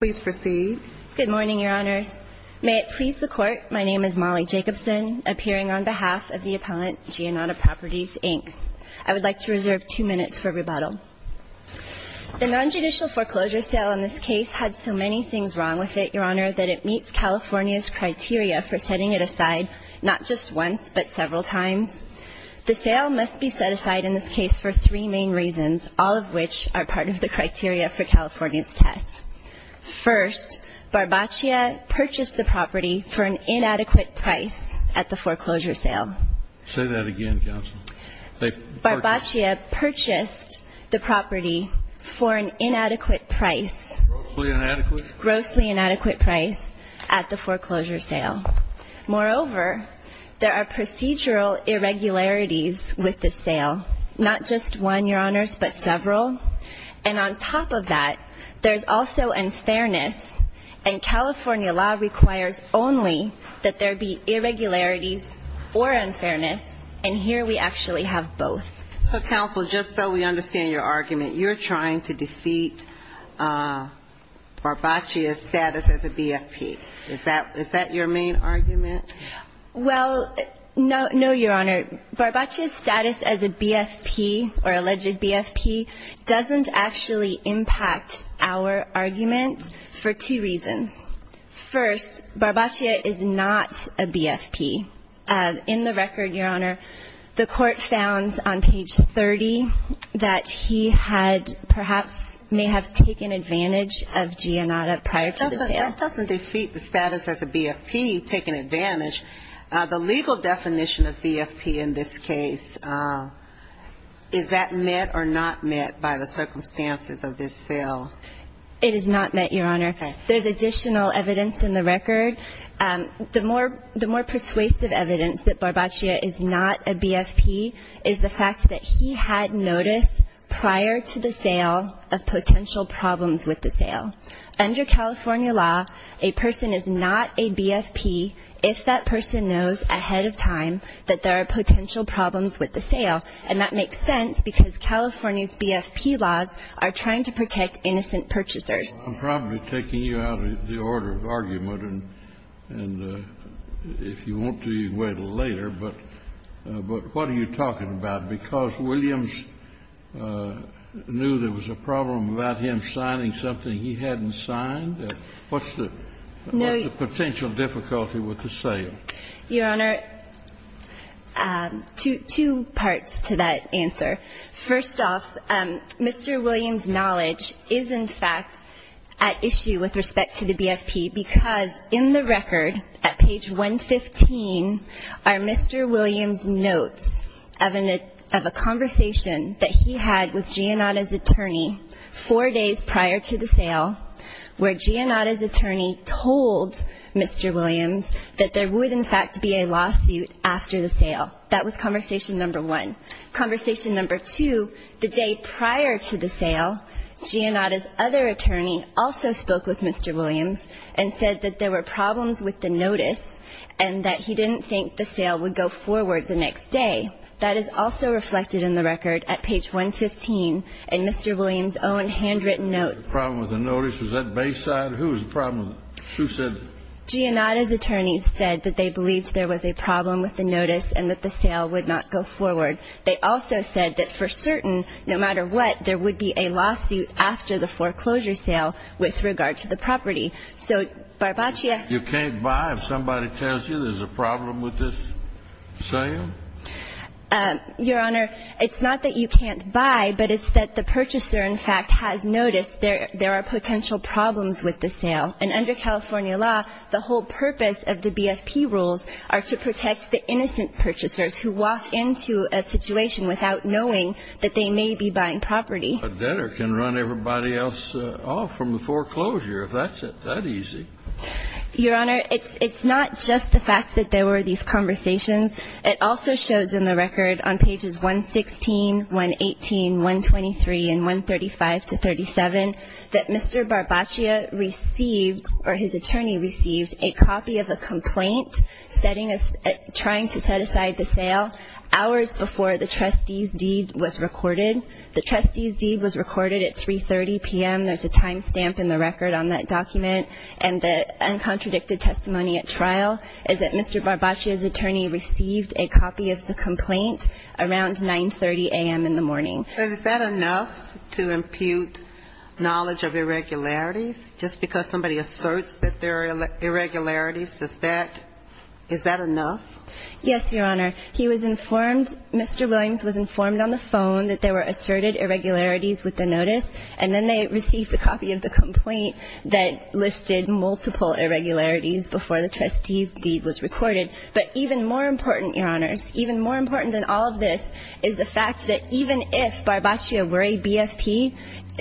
Good morning, Your Honors. May it please the Court, my name is Mollie Jacobson, appearing on behalf of the appellant, Giannotta Properties, Inc. I would like to reserve two minutes for rebuttal. The nonjudicial foreclosure sale in this case had so many things wrong with it, Your Honor, that it meets California's criteria for setting it aside not just once, but several times. The sale must be set aside in this case for three main reasons, all of which are part of the criteria for California's test. First, Barbaccia purchased the property for an inadequate price at the foreclosure sale. Say that again, counsel. Barbaccia purchased the property for an inadequate price. Grossly inadequate. Grossly inadequate price at the foreclosure sale. Moreover, there are procedural irregularities with the sale. Not just one, Your Honors, but several. And on top of that, there's also unfairness, and California law requires only that there be irregularities or unfairness, and here we actually have both. So, counsel, just so we understand your argument, you're trying to defeat Barbaccia's status as a BFP. Is that your main argument? Well, no, Your Honor. Barbaccia's status as a BFP or alleged BFP doesn't actually impact our argument for two reasons. First, Barbaccia is not a BFP. In the record, Your Honor, the court found on page 30 that he had perhaps may have taken advantage of Giannata prior to the sale. That doesn't defeat the status as a BFP. You've taken advantage. The legal definition of BFP in this case, is that met or not met by the circumstances of this sale? It is not met, Your Honor. There's additional evidence in the record. The more persuasive evidence that Barbaccia is not a BFP is the fact that he had notice prior to the sale of potential problems with the sale. Under California law, a person is not a BFP if that person knows ahead of time that there are potential problems with the sale, and that makes sense, because California's BFP laws are trying to protect innocent purchasers. I'm probably taking you out of the order of argument, and if you want to, you can wait until later, but what are you talking about? Because Williams knew there was a problem without him signing something he hadn't signed? What's the potential difficulty with the sale? Your Honor, two parts to that answer. First off, Mr. Williams' knowledge is, in fact, at issue with respect to the BFP, because in the record at page 115 are Mr. Williams' notes of an conversation that he had with Giannata's attorney four days prior to the sale, where Giannata's attorney told Mr. Williams that there would, in fact, be a lawsuit after the sale. That was conversation number one. Conversation number two, the day prior to the sale, Giannata's other attorney also spoke with Mr. Williams and said that there were problems with the notice, and that he didn't think the sale would go forward the next day. That was reflected in the record at page 115 in Mr. Williams' own handwritten notes. The problem with the notice? Was that Bayside? Who was the problem? Who said it? Giannata's attorney said that they believed there was a problem with the notice and that the sale would not go forward. They also said that for certain, no matter what, there would be a lawsuit after the foreclosure sale with regard to the property. So, Barbaccia... You can't buy if somebody tells you there's a problem with this sale? Your Honor, it's not that you can't buy, but it's that the purchaser, in fact, has noticed there are potential problems with the sale. And under California law, the whole purpose of the BFP rules are to protect the innocent purchasers who walk into a situation without knowing that they may be buying property. A debtor can run everybody else off from the foreclosure if that's that easy. Your Honor, it's not just the fact that there were these conversations. It also shows in the record on pages 116, 118, 123, and 135 to 37 that Mr. Barbaccia received, or his attorney received, a copy of a complaint trying to set aside the sale hours before the trustee's deed was recorded. The trustee's deed was recorded at 3.30 p.m. There's a time stamp in the record on that document, and the uncontradicted testimony at trial is that Mr. Barbaccia's attorney received a copy of the complaint around 9.30 a.m. in the morning. Is that enough to impute knowledge of irregularities? Just because somebody asserts that there are irregularities, is that enough? Yes, Your Honor. He was informed, Mr. Williams was informed on the phone that there were asserted irregularities with the notice, and then they received a copy of the complaint that listed multiple irregularities before the trustee's deed was recorded. But even more important, Your Honors, even more important than all of this is the fact that even if Barbaccia were a BFP,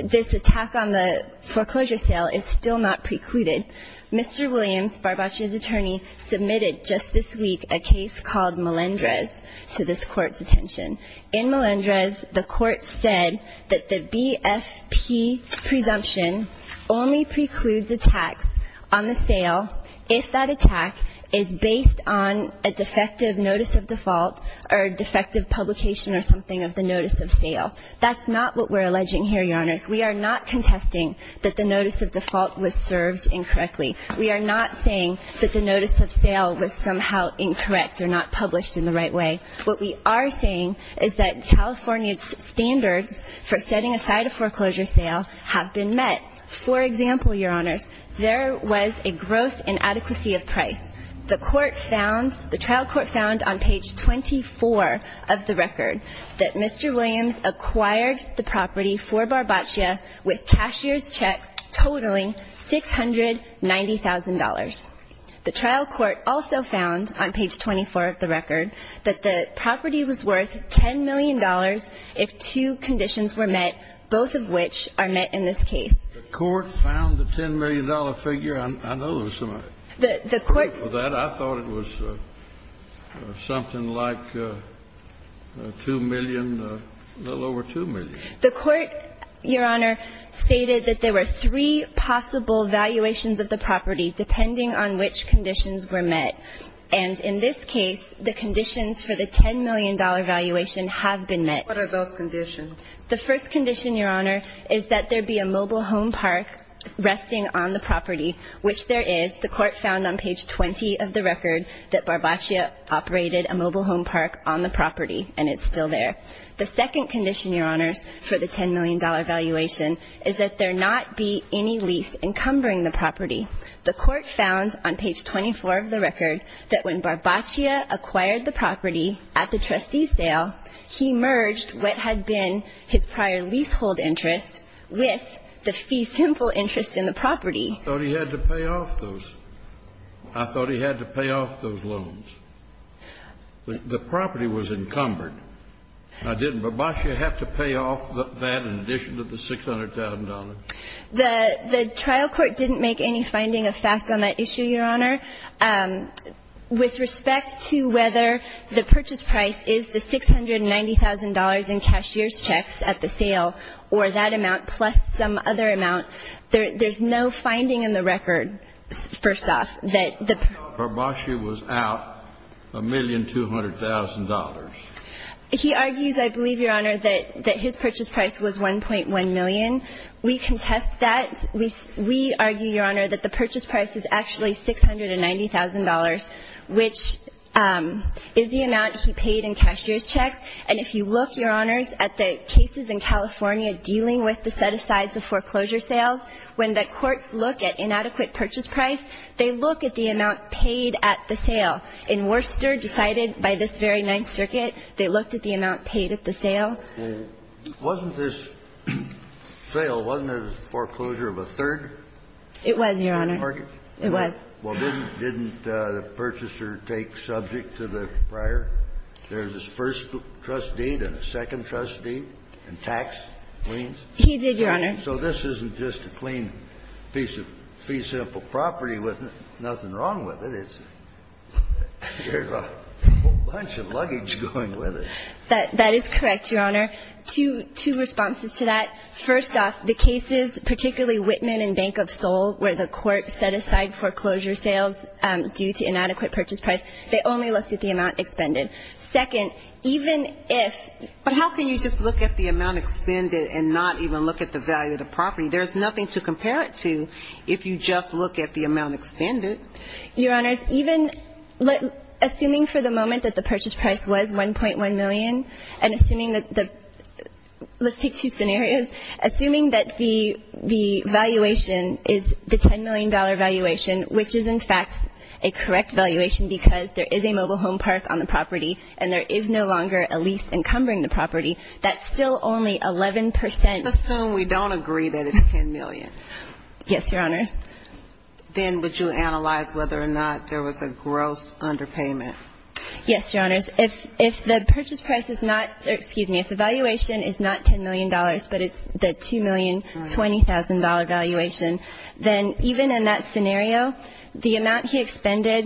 this attack on the foreclosure sale is still not precluded. Mr. Williams, Barbaccia's attorney, submitted just this week a case called Melendrez to this Court's attention. In Melendrez, the Court said that the BFP presumption only precludes attacks on the sale if that attack is based on a defective notice of default or a defective publication or something of the notice of sale. That's not what we're alleging here, Your Honors. We are not contesting that the notice of default was served incorrectly. We are not saying that the notice of sale was somehow incorrect or not published in the right way. What we are saying is that California's standards for setting aside a foreclosure sale have been met. For example, Your Honors, there was a gross inadequacy of price. The trial court found on page 24 of the record that Mr. Williams acquired the property for Barbaccia with cashier's checks totaling $690,000. The trial court also found on page 24 of the record that the property was worth $10 million if two conditions were met, both of which are met in this case. The court found the $10 million figure? I know there was some money. I thought it was something like $2 million, a little over $2 million. The court, Your Honor, stated that there were three possible valuations of the property, depending on the value of the property. Depending on which conditions were met, and in this case, the conditions for the $10 million valuation have been met. What are those conditions? The first condition, Your Honor, is that there be a mobile home park resting on the property, which there is. The court found on page 20 of the record that Barbaccia operated a mobile home park on the property, and it's still there. The second condition, Your Honors, for the $10 million valuation is that there not be any lease encumbering the property. The court found on page 24 of the record that when Barbaccia acquired the property at the trustee's sale, he merged what had been his prior leasehold interest with the fee simple interest in the property. I thought he had to pay off those. I thought he had to pay off those loans. The property was encumbered. Didn't Barbaccia have to pay off that in addition to the $600,000? The trial court didn't make any finding of facts on that issue, Your Honor. With respect to whether the purchase price is the $690,000 in cashier's checks at the sale, or that amount plus some other amount, there's no finding in the record, first off. Barbaccia was out $1,200,000. He argues, I believe, Your Honor, that his purchase price was $1.1 million. We contest that. We argue, Your Honor, that the purchase price is actually $690,000, which is the amount he paid in cashier's checks, and if you look, Your Honors, at the cases in California dealing with the set-asides of foreclosure sales, when the courts look at inadequate purchase price, they look at the amount paid at the sale. In Worcester, decided by this very Ninth Circuit, they looked at the amount paid at the sale. Wasn't this sale, wasn't it a foreclosure of a third? It was, Your Honor. It was. Well, didn't the purchaser take subject to the prior? There's this first trustee, then a second trustee, and tax claims. He did, Your Honor. So this isn't just a clean piece of fee-simple property with nothing wrong with it. There's a whole bunch of luggage going with it. That is correct, Your Honor. Two responses to that. First off, the cases, particularly Whitman and Bank of Seoul, where the court set aside foreclosure sales due to inadequate purchase price, they only looked at the amount expended. Second, even if – But how can you just look at the amount expended and not even look at the value of the property? There's nothing to compare it to if you just look at the amount expended. Your Honors, even – assuming for the moment that the purchase price was $1.1 million, and assuming that the – let's take two scenarios. Assuming that the valuation is the $10 million valuation, which is, in fact, a correct valuation, because there is a mobile home park on the property, and there is no longer a lease encumbering the property, that's still only 11 percent – Let's assume we don't agree that it's $10 million. Yes, Your Honors. Then would you analyze whether or not there was a gross underpayment? Yes, Your Honors. If the purchase price is not – excuse me, if the valuation is not $10 million, but it's the $2,020,000 valuation, then even in that scenario, the amount he expended,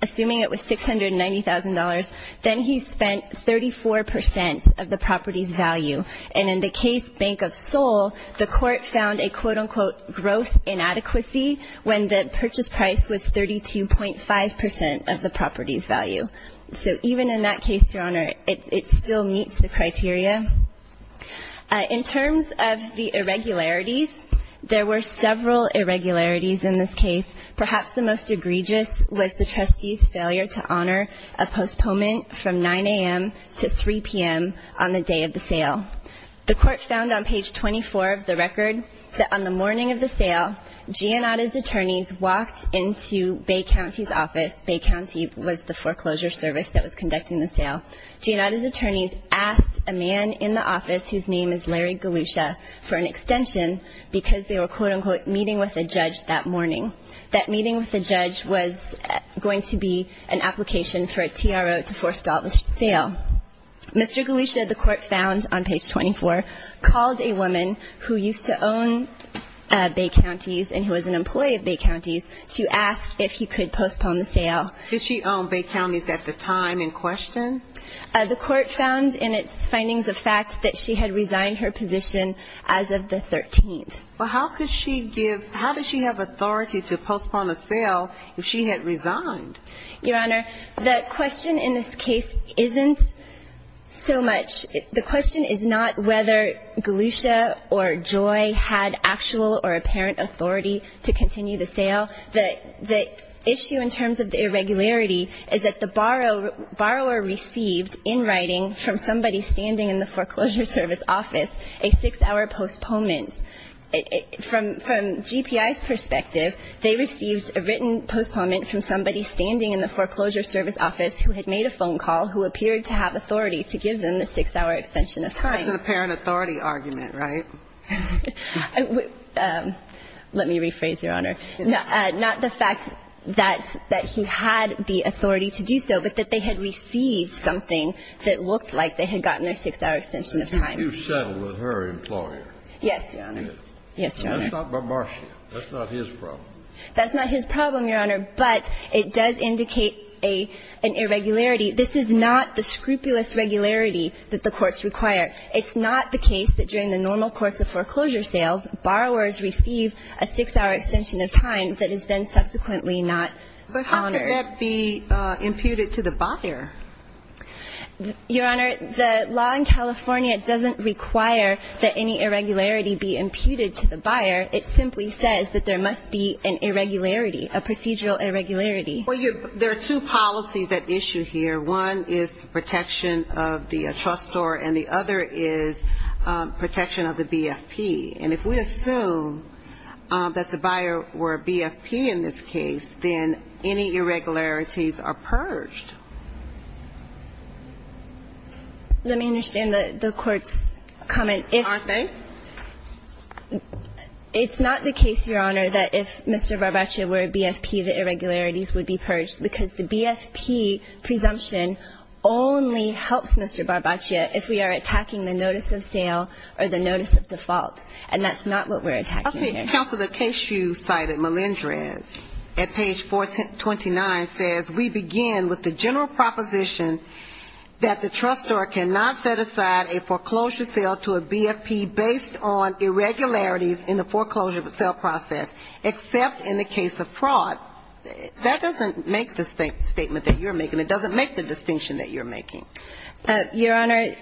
assuming it was $690,000, then he spent 34 percent of the property's value. And in the case Bank of Seoul, the court found a quote-unquote gross inadequacy when the purchase price was 32.5 percent of the property's value. So even in that case, Your Honor, it still meets the criteria. In terms of the irregularities, there were several irregularities in this case. Perhaps the most egregious was the trustee's failure to honor a postponement from 9 a.m. to 3 p.m. on the day of the sale. The court found on page 24 of the record that on the morning of the sale, Giannata's attorneys walked into Bay County's office. Bay County was the foreclosure service that was conducting the sale. Giannata's attorneys asked a man in the office whose name is Larry Galusha for an extension because they were quote-unquote meeting with a judge that morning. That meeting with the judge was going to be an application for a TRO to forestall the sale. Mr. Galusha, the court found on page 24, called a woman who used to own Bay County's and who was an employee of Bay County's to ask if he could postpone the sale. Did she own Bay County's at the time in question? The court found in its findings of fact that she had resigned her position as of the 13th. Well, how could she give, how does she have authority to postpone a sale if she had resigned? Your Honor, the question in this case isn't so much, the question is not whether Galusha or Joy had actual or apparent authority to continue the sale. The issue in terms of the irregularity is that the borrower received in writing from somebody standing in the foreclosure service office a six-hour postponement. From GPI's perspective, they received a written postponement from somebody standing in the foreclosure service office who had made a phone call who appeared to have authority to give them the six-hour extension of time. That's an apparent authority argument, right? Let me rephrase, Your Honor. Not the fact that he had the authority to do so, but that they had received something that looked like they had gotten their six-hour extension of time. You settled with her employer. Yes, Your Honor. Yes, Your Honor. That's not Marcia. That's not his problem. That's not his problem, Your Honor, but it does indicate an irregularity. This is not the scrupulous regularity that the courts require. It's not the case that during the normal course of foreclosure sales, borrowers receive a six-hour extension of time that is then subsequently not honored. But how could that be imputed to the buyer? Your Honor, the law in California doesn't require that any irregularity be imputed to the buyer. It simply says that there must be an irregularity, a procedural irregularity. Well, there are two policies at issue here. One is the protection of the trustor, and the other is protection of the BFP. And if we assume that the buyer were a BFP in this case, then any irregularities are purged. Let me understand the court's comment. Aren't they? It's not the case, Your Honor, that if Mr. Barbaccia were a BFP, the irregularities would be purged, because the BFP presumption only helps Mr. Barbaccia if we are attacking the notice of sale or the notice of default. And that's not what we're attacking here. Counsel, the case you cited, Melendrez, at page 429, says, we begin with the general proposition that the trustor cannot set aside a foreclosure sale to a BFP based on irregularities in the foreclosure sale process, except in the case of fraud. That doesn't make the statement that you're making. It doesn't make the distinction that you're making. Your Honor,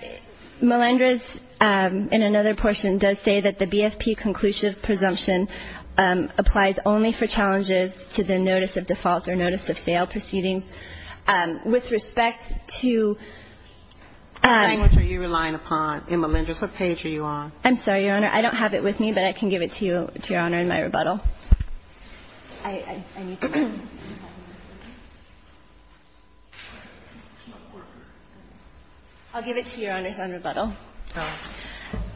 Melendrez, in another portion, does say that the BFP conclusive presumption applies only for challenges to the notice of default or notice of sale proceedings. With respect to ---- How much are you relying upon in Melendrez? What page are you on? I'm sorry, Your Honor. I don't have it with me, but I can give it to you, Your Honor, in my rebuttal. I'll give it to Your Honor on rebuttal. All right.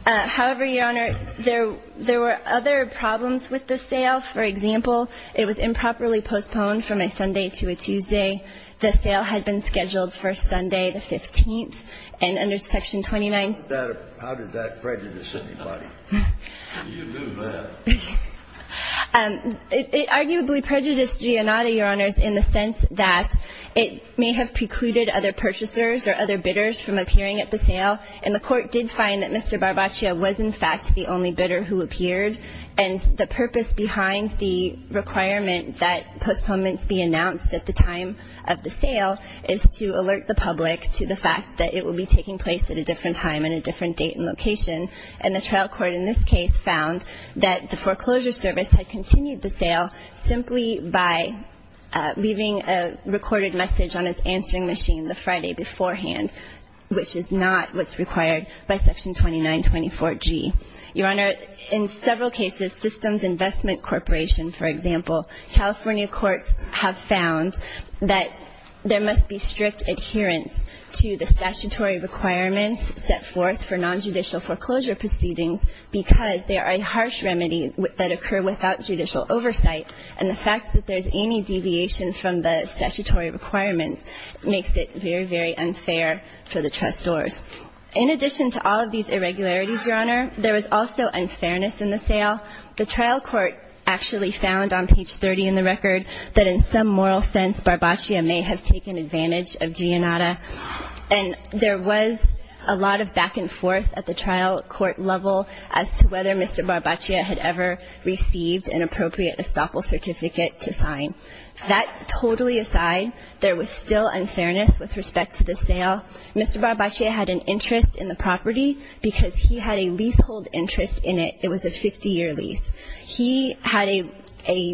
However, Your Honor, there were other problems with the sale. For example, it was improperly postponed from a Sunday to a Tuesday. The sale had been scheduled for Sunday the 15th. And under section 29 ---- How did that prejudice anybody? You knew that. It arguably prejudiced Giannotti, Your Honor, in the sense that it may have precluded other purchasers or other bidders from appearing at the sale. And the Court did find that Mr. Barbaccia was, in fact, the only bidder who appeared. And the purpose behind the requirement that postponements be announced at the time of the sale is to alert the public to the fact that it will be taking place at a different time and a different date and location. And the trial court in this case found that the foreclosure service had continued the sale simply by leaving a recorded message on its answering machine the Friday beforehand, which is not what's required by section 2924G. Your Honor, in several cases, Systems Investment Corporation, for example, California courts have found that there must be strict adherence to the statutory requirements set forth for nonjudicial foreclosure proceedings because they are a harsh remedy that occur without judicial oversight. And the fact that there's any deviation from the statutory requirements makes it very, very unfair for the trustors. In addition to all of these irregularities, Your Honor, there was also unfairness in the sale. The trial court actually found on page 30 in the record that in some moral sense, Barbaccia may have taken advantage of Giannotti. And there was a lot of back and forth at the trial court level as to whether Mr. Barbaccia had ever received an appropriate estoppel certificate to sign. That totally aside, there was still unfairness with respect to the sale. Mr. Barbaccia had an interest in the property because he had a leasehold interest in it. It was a 50-year lease. He had a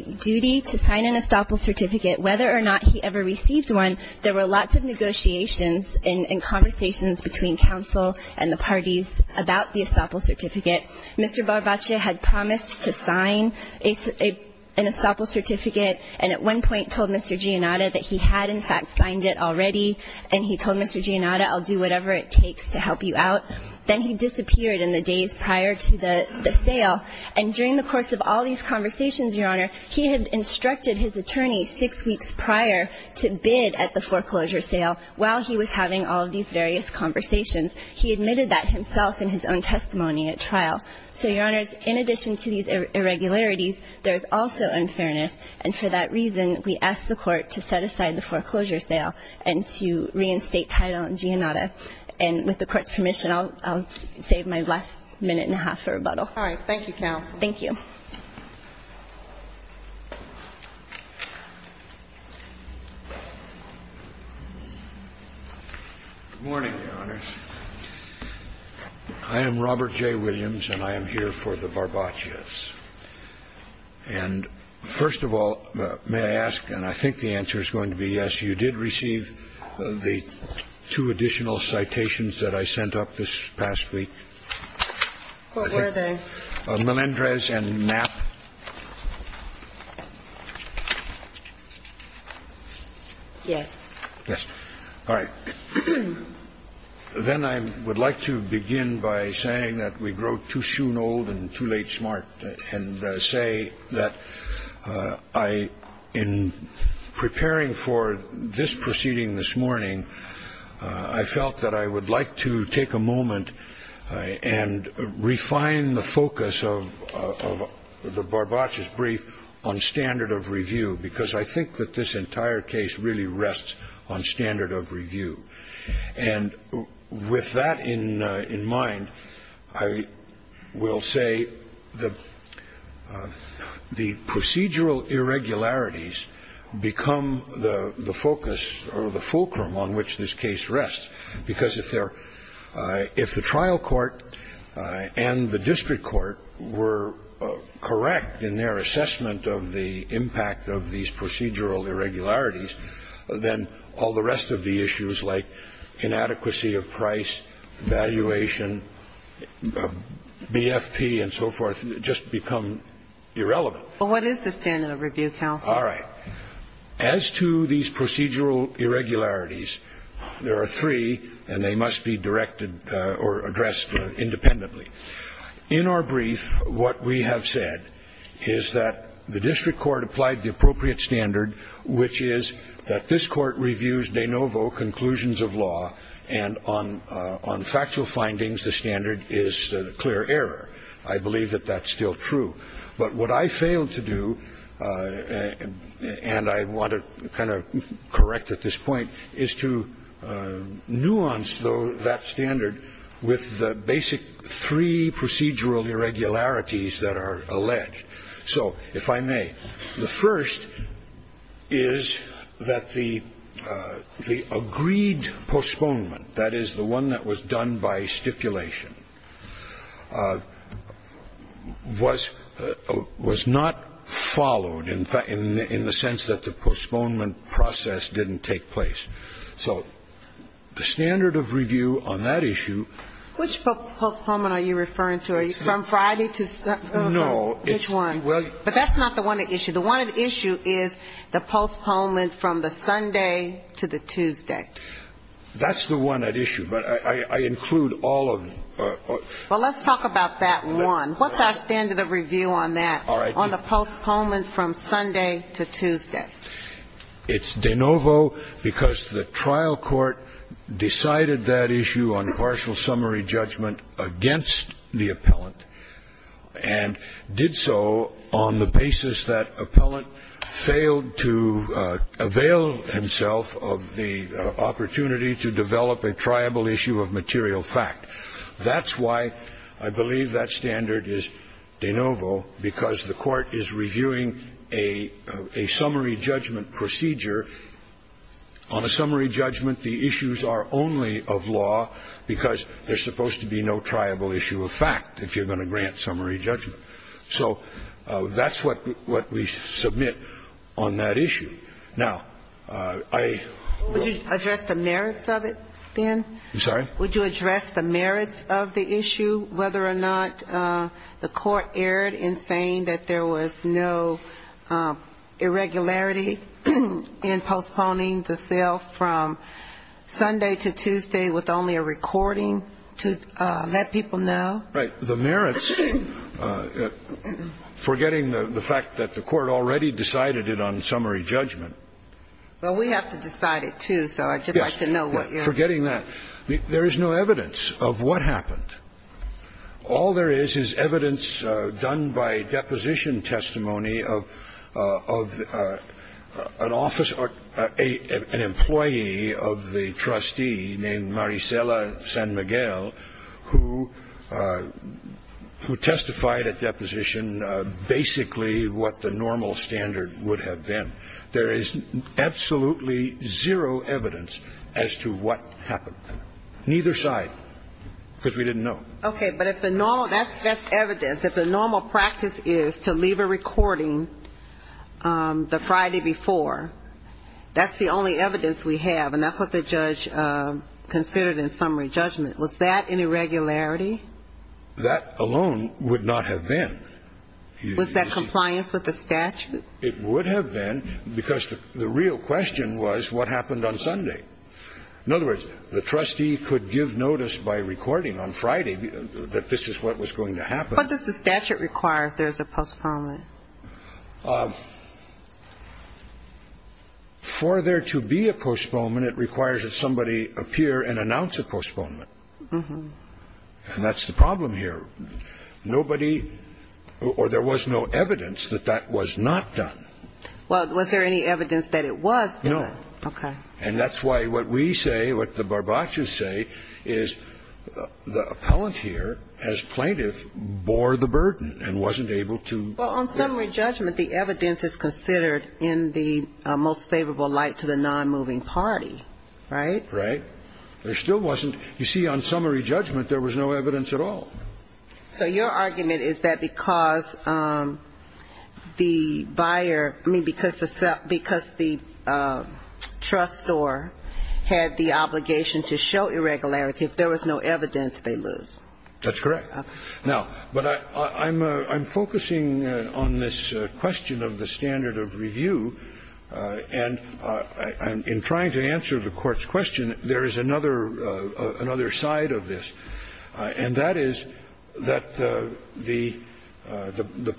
duty to sign an estoppel certificate. Whether or not he ever received one, there were lots of negotiations and conversations between counsel and the parties about the estoppel certificate. Mr. Barbaccia had promised to sign an estoppel certificate and at one point told Mr. Giannotti that he had, in fact, signed it already, and he told Mr. Giannotti I'll do whatever it takes to help you out. Then he disappeared in the days prior to the sale. And during the course of all these conversations, Your Honor, he had instructed his attorney six weeks prior to bid at the foreclosure sale while he was having all of these various conversations. He admitted that himself in his own testimony at trial. So, Your Honors, in addition to these irregularities, there is also unfairness, and for that reason, we ask the Court to set aside the foreclosure sale and to reinstate title on Giannotti. And with the Court's permission, I'll save my last minute and a half for rebuttal. All right. Thank you. Robert J. Williams. Good morning, Your Honors. I am Robert J. Williams and I am here for the Barbaccias. And first of all, may I ask, and I think the answer is going to be yes, you did receive the two additional citations that I sent up this past week. What were they? Melendrez and Knapp. Yes. Yes. All right. Then I would like to begin by saying that we grow too shoen old and too late smart and say that I, in preparing for this proceeding this morning, I felt that I would like to take a moment and refine the focus of the Barbaccias brief on standard of review, because I think that this entire case really rests on standard of review. And with that in mind, I will say that the procedural irregularities become the focus or the fulcrum on which this case rests, because if the trial court and the district court were correct in their assessment of the impact of these procedural irregularities, then all the rest of the issues like inadequacy of price, valuation, BFP and so forth just become irrelevant. All right. As to these procedural irregularities, there are three, and they must be directed or addressed independently. In our brief, what we have said is that the district court applied the appropriate standard, which is that this court reviews de novo conclusions of law, and on factual findings the standard is a clear error. I believe that that's still true. But what I failed to do, and I want to kind of correct at this point, is to nuance that standard with the basic three procedural irregularities that are alleged. So if I may, the first is that the agreed postponement, that is, the one that was done by stipulation, was not followed in the sense that the postponement process didn't take place. So the standard of review on that issue ---- Which postponement are you referring to? Are you from Friday to ---- No, it's ---- Which one? But that's not the one at issue. The one at issue is the postponement from the Sunday to the Tuesday. That's the one at issue, but I include all of them. Well, let's talk about that one. What's our standard of review on that, on the postponement from Sunday to Tuesday? It's de novo because the trial court decided that issue on partial summary judgment against the appellant and did so on the basis that appellant failed to avail himself of the opportunity to develop a triable issue of material fact. That's why I believe that standard is de novo, because the court is reviewing a summary judgment procedure. On a summary judgment, the issues are only of law because there's supposed to be no triable issue of fact if you're going to grant summary judgment. So that's what we submit on that issue. Now, I ---- Would you address the merits of it then? I'm sorry? Would you address the merits of the issue, whether or not the court erred in saying that there was no irregularity in postponing the sale from Sunday to Tuesday with only a recording to let people know? Right. The merits, forgetting the fact that the court already decided it on summary judgment ---- Well, we have to decide it, too, so I'd just like to know what you're ---- Yes. Forgetting that. There is no evidence of what happened. All there is is evidence done by deposition testimony of an office or an employee of the trustee named Maricela San Miguel, who testified at deposition basically what the normal standard would have been. There is absolutely zero evidence as to what happened, neither side, because we didn't know. Okay. But if the normal ---- that's evidence. If the normal practice is to leave a recording the Friday before, that's the only evidence we have, and that's what the judge considered in summary judgment. Was that an irregularity? That alone would not have been. Was that compliance with the statute? It would have been, because the real question was what happened on Sunday. In other words, the trustee could give notice by recording on Friday that this is what was going to happen. What does the statute require if there is a postponement? For there to be a postponement, it requires that somebody appear and announce a postponement. And that's the problem here. Nobody or there was no evidence that that was not done. Well, was there any evidence that it was done? No. Okay. And that's why what we say, what the barbachos say, is the appellant here, as plaintiff, bore the burden and wasn't able to ---- Well, on summary judgment, the evidence is considered in the most favorable light to the nonmoving party, right? Right. There still wasn't. You see, on summary judgment, there was no evidence at all. So your argument is that because the buyer, I mean, because the trustor had the obligation to show irregularity, if there was no evidence, they lose. That's correct. Now, but I'm focusing on this question of the standard of review, and in trying to answer the Court's question, there is another side of this, and that is that the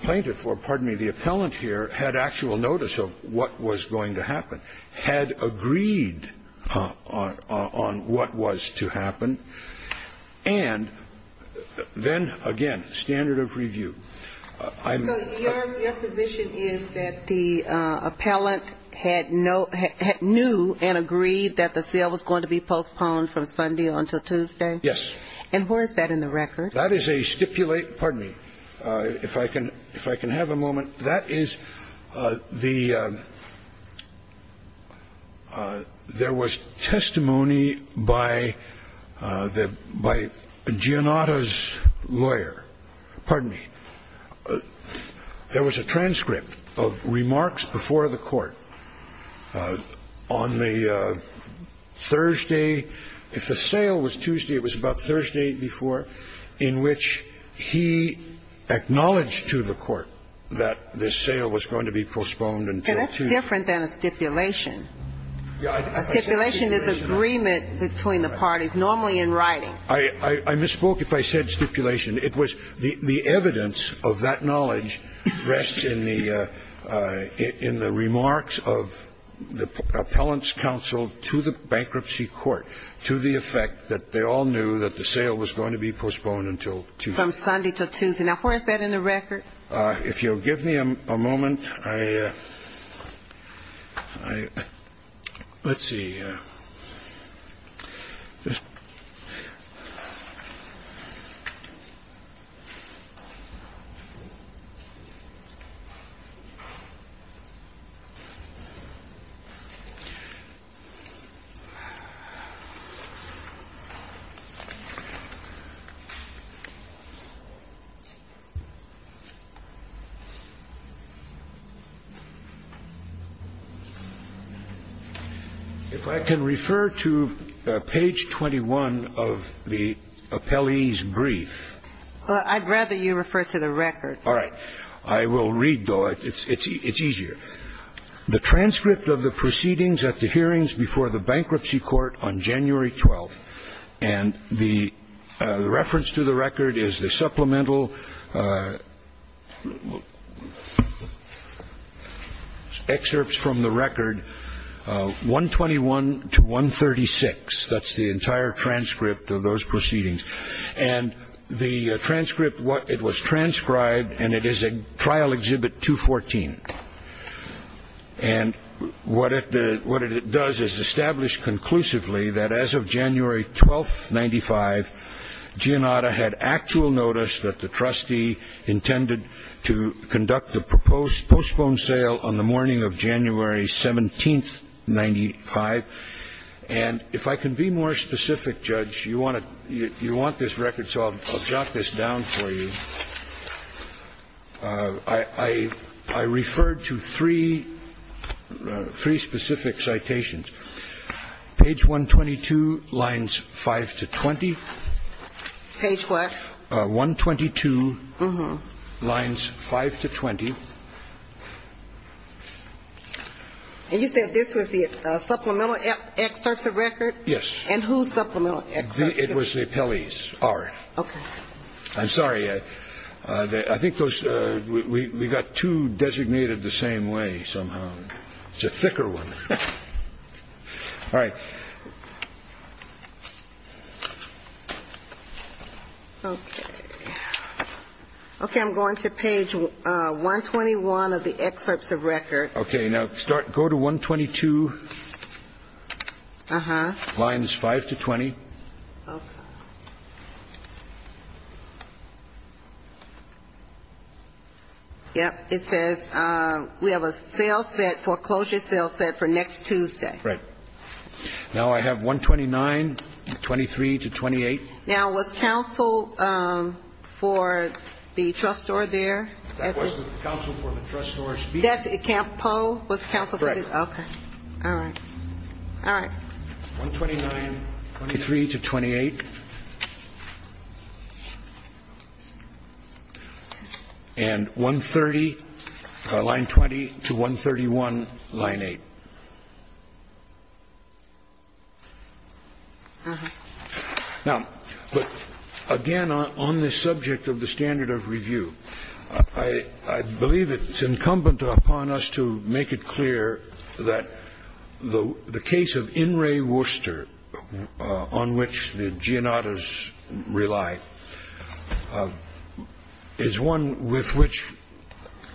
plaintiff or, pardon me, the appellant here had actual notice of what was going to happen, had agreed on what was to happen, and then, again, standard of review. I'm ---- So your position is that the appellant had no ---- knew and agreed that the sale was going to be postponed from Sunday until Tuesday? Yes. And where is that in the record? That is a stipulate ---- pardon me, if I can have a moment. That is the ---- there was testimony by the ---- by Gianotto's lawyer. Pardon me. There was a transcript of remarks before the Court on the Thursday. If the sale was Tuesday, it was about Thursday before, in which he acknowledged to the Court that the sale was going to be postponed until Tuesday. That's different than a stipulation. A stipulation is agreement between the parties, normally in writing. I misspoke if I said stipulation. It was the evidence of that knowledge rests in the remarks of the appellant's counsel to the bankruptcy court, to the effect that they all knew that the sale was going to be postponed until Tuesday. From Sunday to Tuesday. Now, where is that in the record? If you'll give me a moment, I ---- let's see. Let me just ---- If I can refer to page 21 of the appellee's report. All right. I will read, though. It's easier. The transcript of the proceedings at the hearings before the bankruptcy court on January 12th. And the reference to the record is the supplemental excerpts from the record, 121 to 136. That's the entire transcript of those proceedings. And the transcript, it was transcribed, and it is a trial exhibit 214. And what it does is establish conclusively that as of January 12th, 1995, Giannata had actual notice that the trustee intended to conduct a postponed sale on the morning of January 17th, 1995. And if I can be more specific, Judge, you want this record, so I'll jot this down for you. I referred to three specific citations. Page 122, lines 5 to 20. Page what? 122, lines 5 to 20. And you said this was the supplemental excerpts of record? Yes. And whose supplemental excerpts? It was the appellee's. All right. Okay. I'm sorry. I think those we got two designated the same way somehow. It's a thicker one. All right. Okay. Okay. I'm going to page 121 of the excerpts of record. Okay. Now go to 122, lines 5 to 20. Okay. Yep. It says we have a sales set, foreclosure sales set for next Tuesday. Right. Now I have 129, 23 to 28. Now was counsel for the trustor there? That was the counsel for the trustor speaking. That's Poe? Correct. Okay. All right. All right. 129, 23 to 28. And 130, line 20 to 131, line 8. All right. Now, again, on this subject of the standard of review, I believe it's incumbent upon us to make it clear that the case of In re Worcester, on which the Gianottas rely, is one with which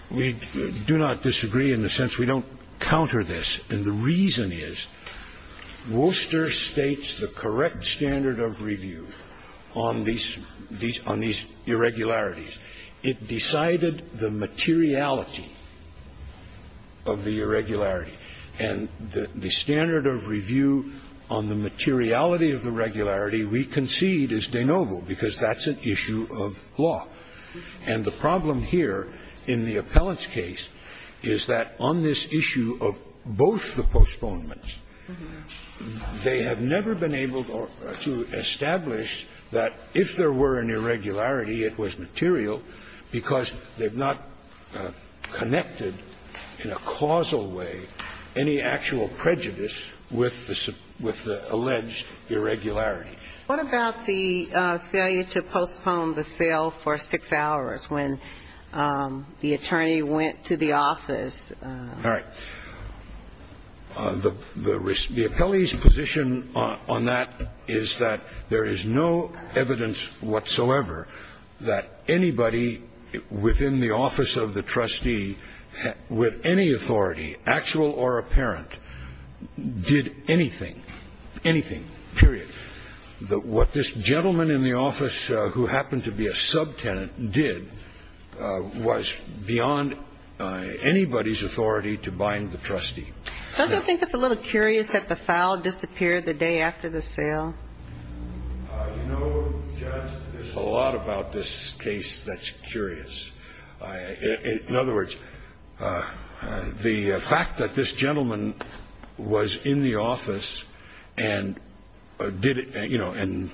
we do not disagree in the sense we don't counter this. And the reason is Worcester states the correct standard of review on these irregularities. It decided the materiality of the irregularity. And the standard of review on the materiality of the regularity we concede is de novo, because that's an issue of law. And the problem here in the appellant's case is that on this issue of both the postponements, they have never been able to establish that if there were an irregularity, it was material because they've not connected in a causal way any actual prejudice with the alleged irregularity. What about the failure to postpone the sale for six hours when the attorney went to the office? All right. The appellee's position on that is that there is no evidence whatsoever that anybody within the office of the trustee with any authority, actual or apparent, did anything, anything, period. What this gentleman in the office who happened to be a subtenant did was beyond anybody's authority to bind the trustee. Don't you think it's a little curious that the file disappeared the day after the sale? You know, Judge, there's a lot about this case that's curious. In other words, the fact that this gentleman was in the office and did it, you know, and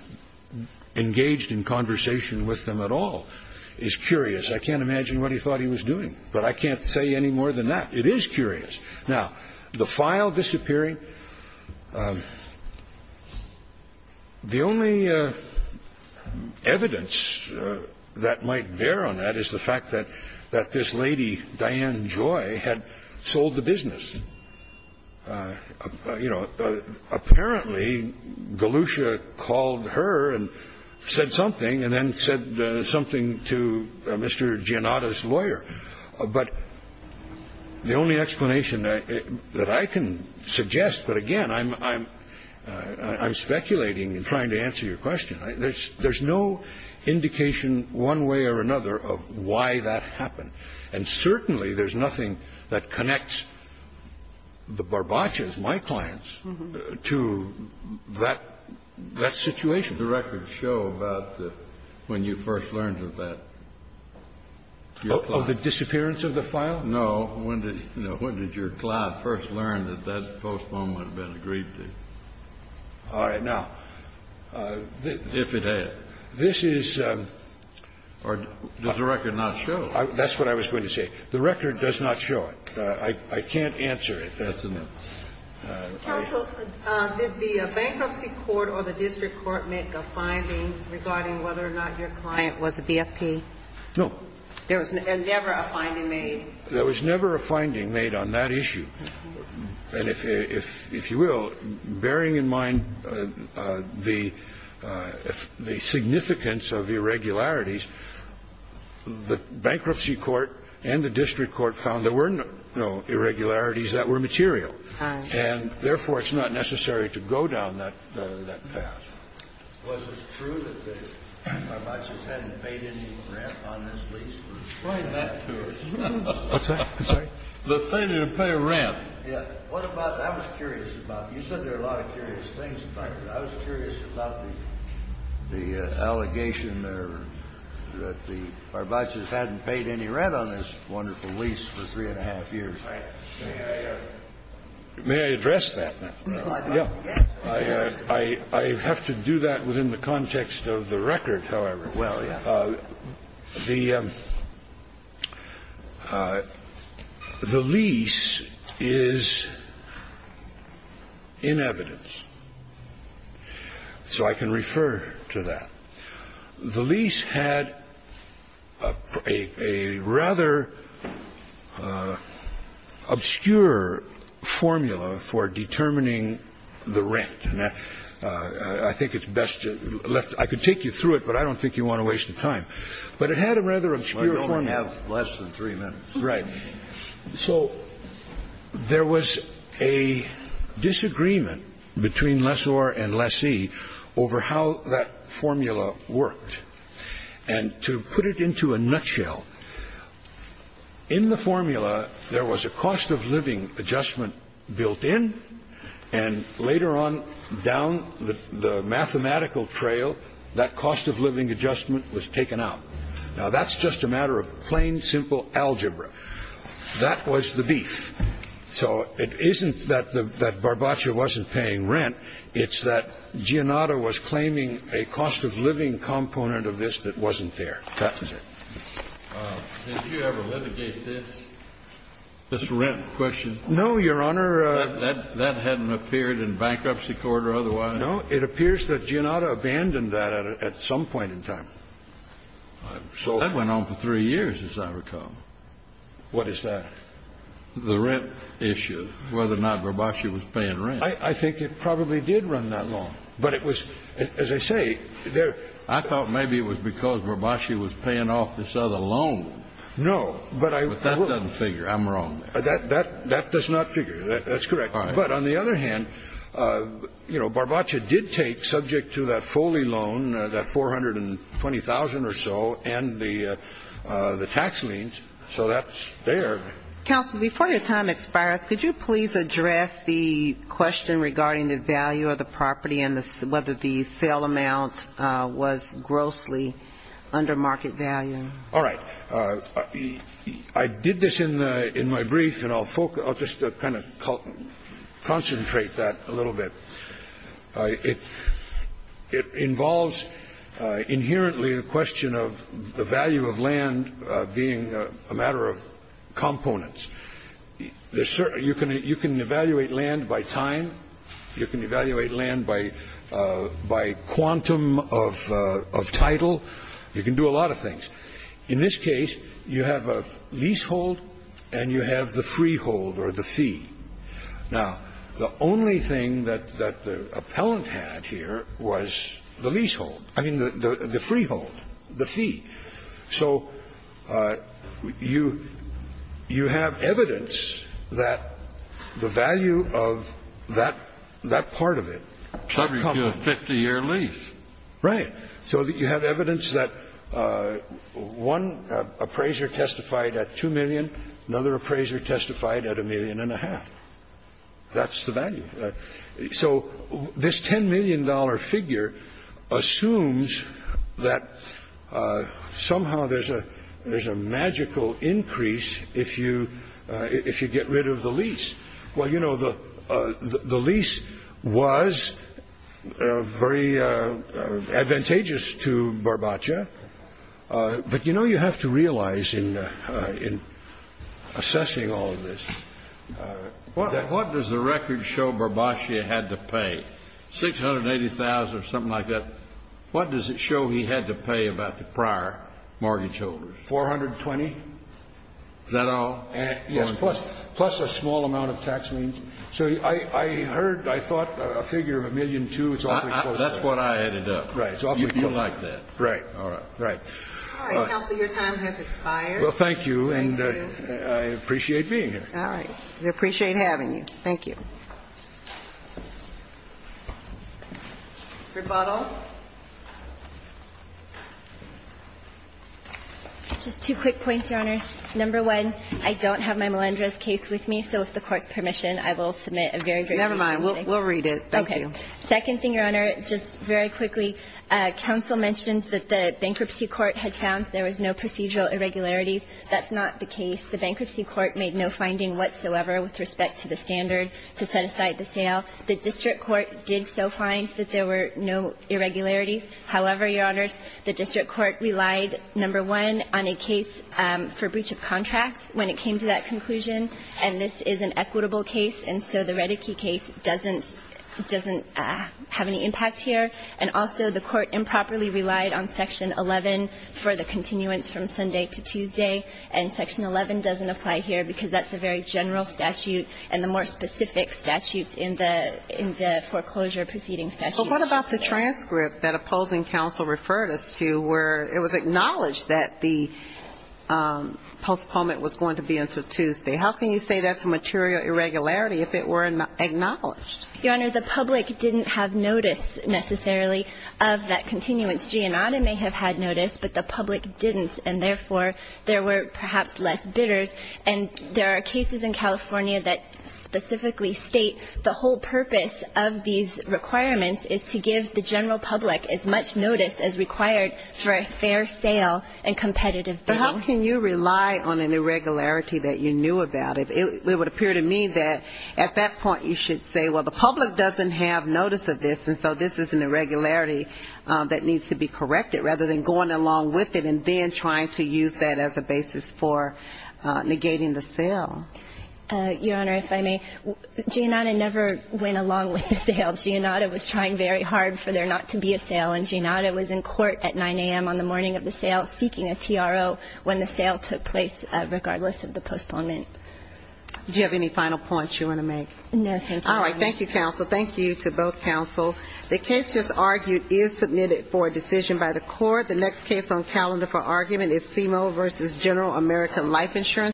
engaged in conversation with them at all is curious. I can't imagine what he thought he was doing, but I can't say any more than that. It is curious. Now, the file disappearing, the only evidence that might bear on that is the fact that this lady, Diane Joy, had sold the business. You know, apparently, Galusha called her and said something and then said something to Mr. Gianotta's lawyer. But the only explanation that I can suggest, but again, I'm speculating and trying to answer your question. There's no indication one way or another of why that happened. And certainly there's nothing that connects the Barbaccias, my clients, to that situation. Kennedy, did the record show about when you first learned of that, your client? Oh, the disappearance of the file? No. When did your client first learn that that postmortem had been agreed to? All right. Now, if it had. This is or does the record not show? That's what I was going to say. The record does not show it. I can't answer it. That's enough. Counsel, did the bankruptcy court or the district court make a finding regarding whether or not your client was a BFP? No. There was never a finding made? There was never a finding made on that issue. And if you will, bearing in mind the significance of irregularities, the bankruptcy court and the district court found there were no irregularities that were material. And therefore, it's not necessary to go down that path. Was it true that the Barbaccias hadn't paid any rent on this lease? It's probably not true. What's that? I'm sorry? The thing didn't pay rent. Yeah. What about the other curious about it? You said there are a lot of curious things about it. I was curious about the allegation there that the Barbaccias hadn't paid any rent on this wonderful lease for three and a half years. May I address that? Yeah. I have to do that within the context of the record, however. Well, yeah. The lease is in evidence, so I can refer to that. The lease had a rather obscure formula for determining the rent. And I think it's best to left the room. I could take you through it, but I don't think you want to waste the time. But it had a rather obscure formula. I don't want to have less than three minutes. Right. So there was a disagreement between Lessor and Lessee over how that formula worked. And to put it into a nutshell, in the formula, there was a cost of living adjustment built in. And later on down the mathematical trail, that cost of living adjustment was taken out. Now, that's just a matter of plain, simple algebra. That was the beef. So it isn't that Barbaccia wasn't paying rent. It's that Giannata was claiming a cost of living component of this that wasn't there. That was it. Did you ever litigate this, this rent question? No, Your Honor. That hadn't appeared in bankruptcy court or otherwise? It appears that Giannata abandoned that at some point in time. That went on for three years, as I recall. What is that? The rent issue, whether or not Barbaccia was paying rent. I think it probably did run that long. But it was, as I say, there was. I thought maybe it was because Barbaccia was paying off this other loan. No. But that doesn't figure. I'm wrong. That does not figure. That's correct. But on the other hand, you know, Barbaccia did take, subject to that Foley loan, that $420,000 or so, and the tax liens. So that's there. Counsel, before your time expires, could you please address the question regarding the value of the property and whether the sale amount was grossly under market value? All right. I did this in my brief, and I'll just kind of concentrate that a little bit. It involves inherently a question of the value of land being a matter of components. You can evaluate land by time. You can evaluate land by quantum of title. You can do a lot of things. In this case, you have a leasehold, and you have the freehold or the fee. Now, the only thing that the appellant had here was the leasehold. I mean, the freehold, the fee. So you have evidence that the value of that part of it. Probably a 50-year lease. Right. So you have evidence that one appraiser testified at $2 million, another appraiser testified at $1.5 million. That's the value. So this $10 million figure assumes that somehow there's a magical increase if you get rid of the lease. Well, you know, the lease was very advantageous to Barbacia. But, you know, you have to realize in assessing all of this that what does the record show Barbacia had to pay? $680,000 or something like that. What does it show he had to pay about the prior mortgage holders? $420,000. Is that all? Yes, plus a small amount of tax liens. So I heard, I thought, a figure of $1.2 million. That's what I added up. Right. You like that. Right. All right. Counsel, your time has expired. Well, thank you. Thank you. And I appreciate being here. All right. We appreciate having you. Thank you. Rebuttal. Just two quick points, Your Honor. Number one, I don't have my Melendrez case with me. So if the Court's permission, I will submit a very brief rebuttal. Never mind. We'll read it. Thank you. Okay. Second thing, Your Honor, just very quickly, counsel mentions that the bankruptcy court had found there was no procedural irregularities. That's not the case. The bankruptcy court made no finding whatsoever with respect to the standard to set aside the sale. The district court did so find that there were no irregularities. However, Your Honors, the district court relied, number one, on a case for breach of contracts when it came to that conclusion. And this is an equitable case. And so the Reddickey case doesn't have any impact here. And also the court improperly relied on Section 11 for the continuance from Sunday to Tuesday. And Section 11 doesn't apply here because that's a very general statute and the more specific statutes in the foreclosure proceeding statute. Well, what about the transcript that opposing counsel referred us to where it was acknowledged that the postponement was going to be until Tuesday? How can you say that's a material irregularity if it were acknowledged? Your Honor, the public didn't have notice necessarily of that continuance. Giannata may have had notice, but the public didn't, and therefore there were perhaps less bidders. And there are cases in California that specifically state the whole purpose of these requirements is to give the general public as much notice as required for a fair sale and competitive bidding. But how can you rely on an irregularity that you knew about? It would appear to me that at that point you should say, well, the public doesn't have notice of this, and so this is an irregularity that needs to be corrected, rather than going along with it and then trying to use that as a basis for negating the sale. Your Honor, if I may, Giannata never went along with the sale. Giannata was trying very hard for there not to be a sale, and Giannata was in court at 9 a.m. on the morning of the sale seeking a TRO when the sale took place, regardless of the postponement. Do you have any final points you want to make? No, thank you. All right. Thank you, counsel. Thank you to both counsels. The case just argued is submitted for a decision by the court. The next case on calendar for argument is CIMO v. General American Life Insurance.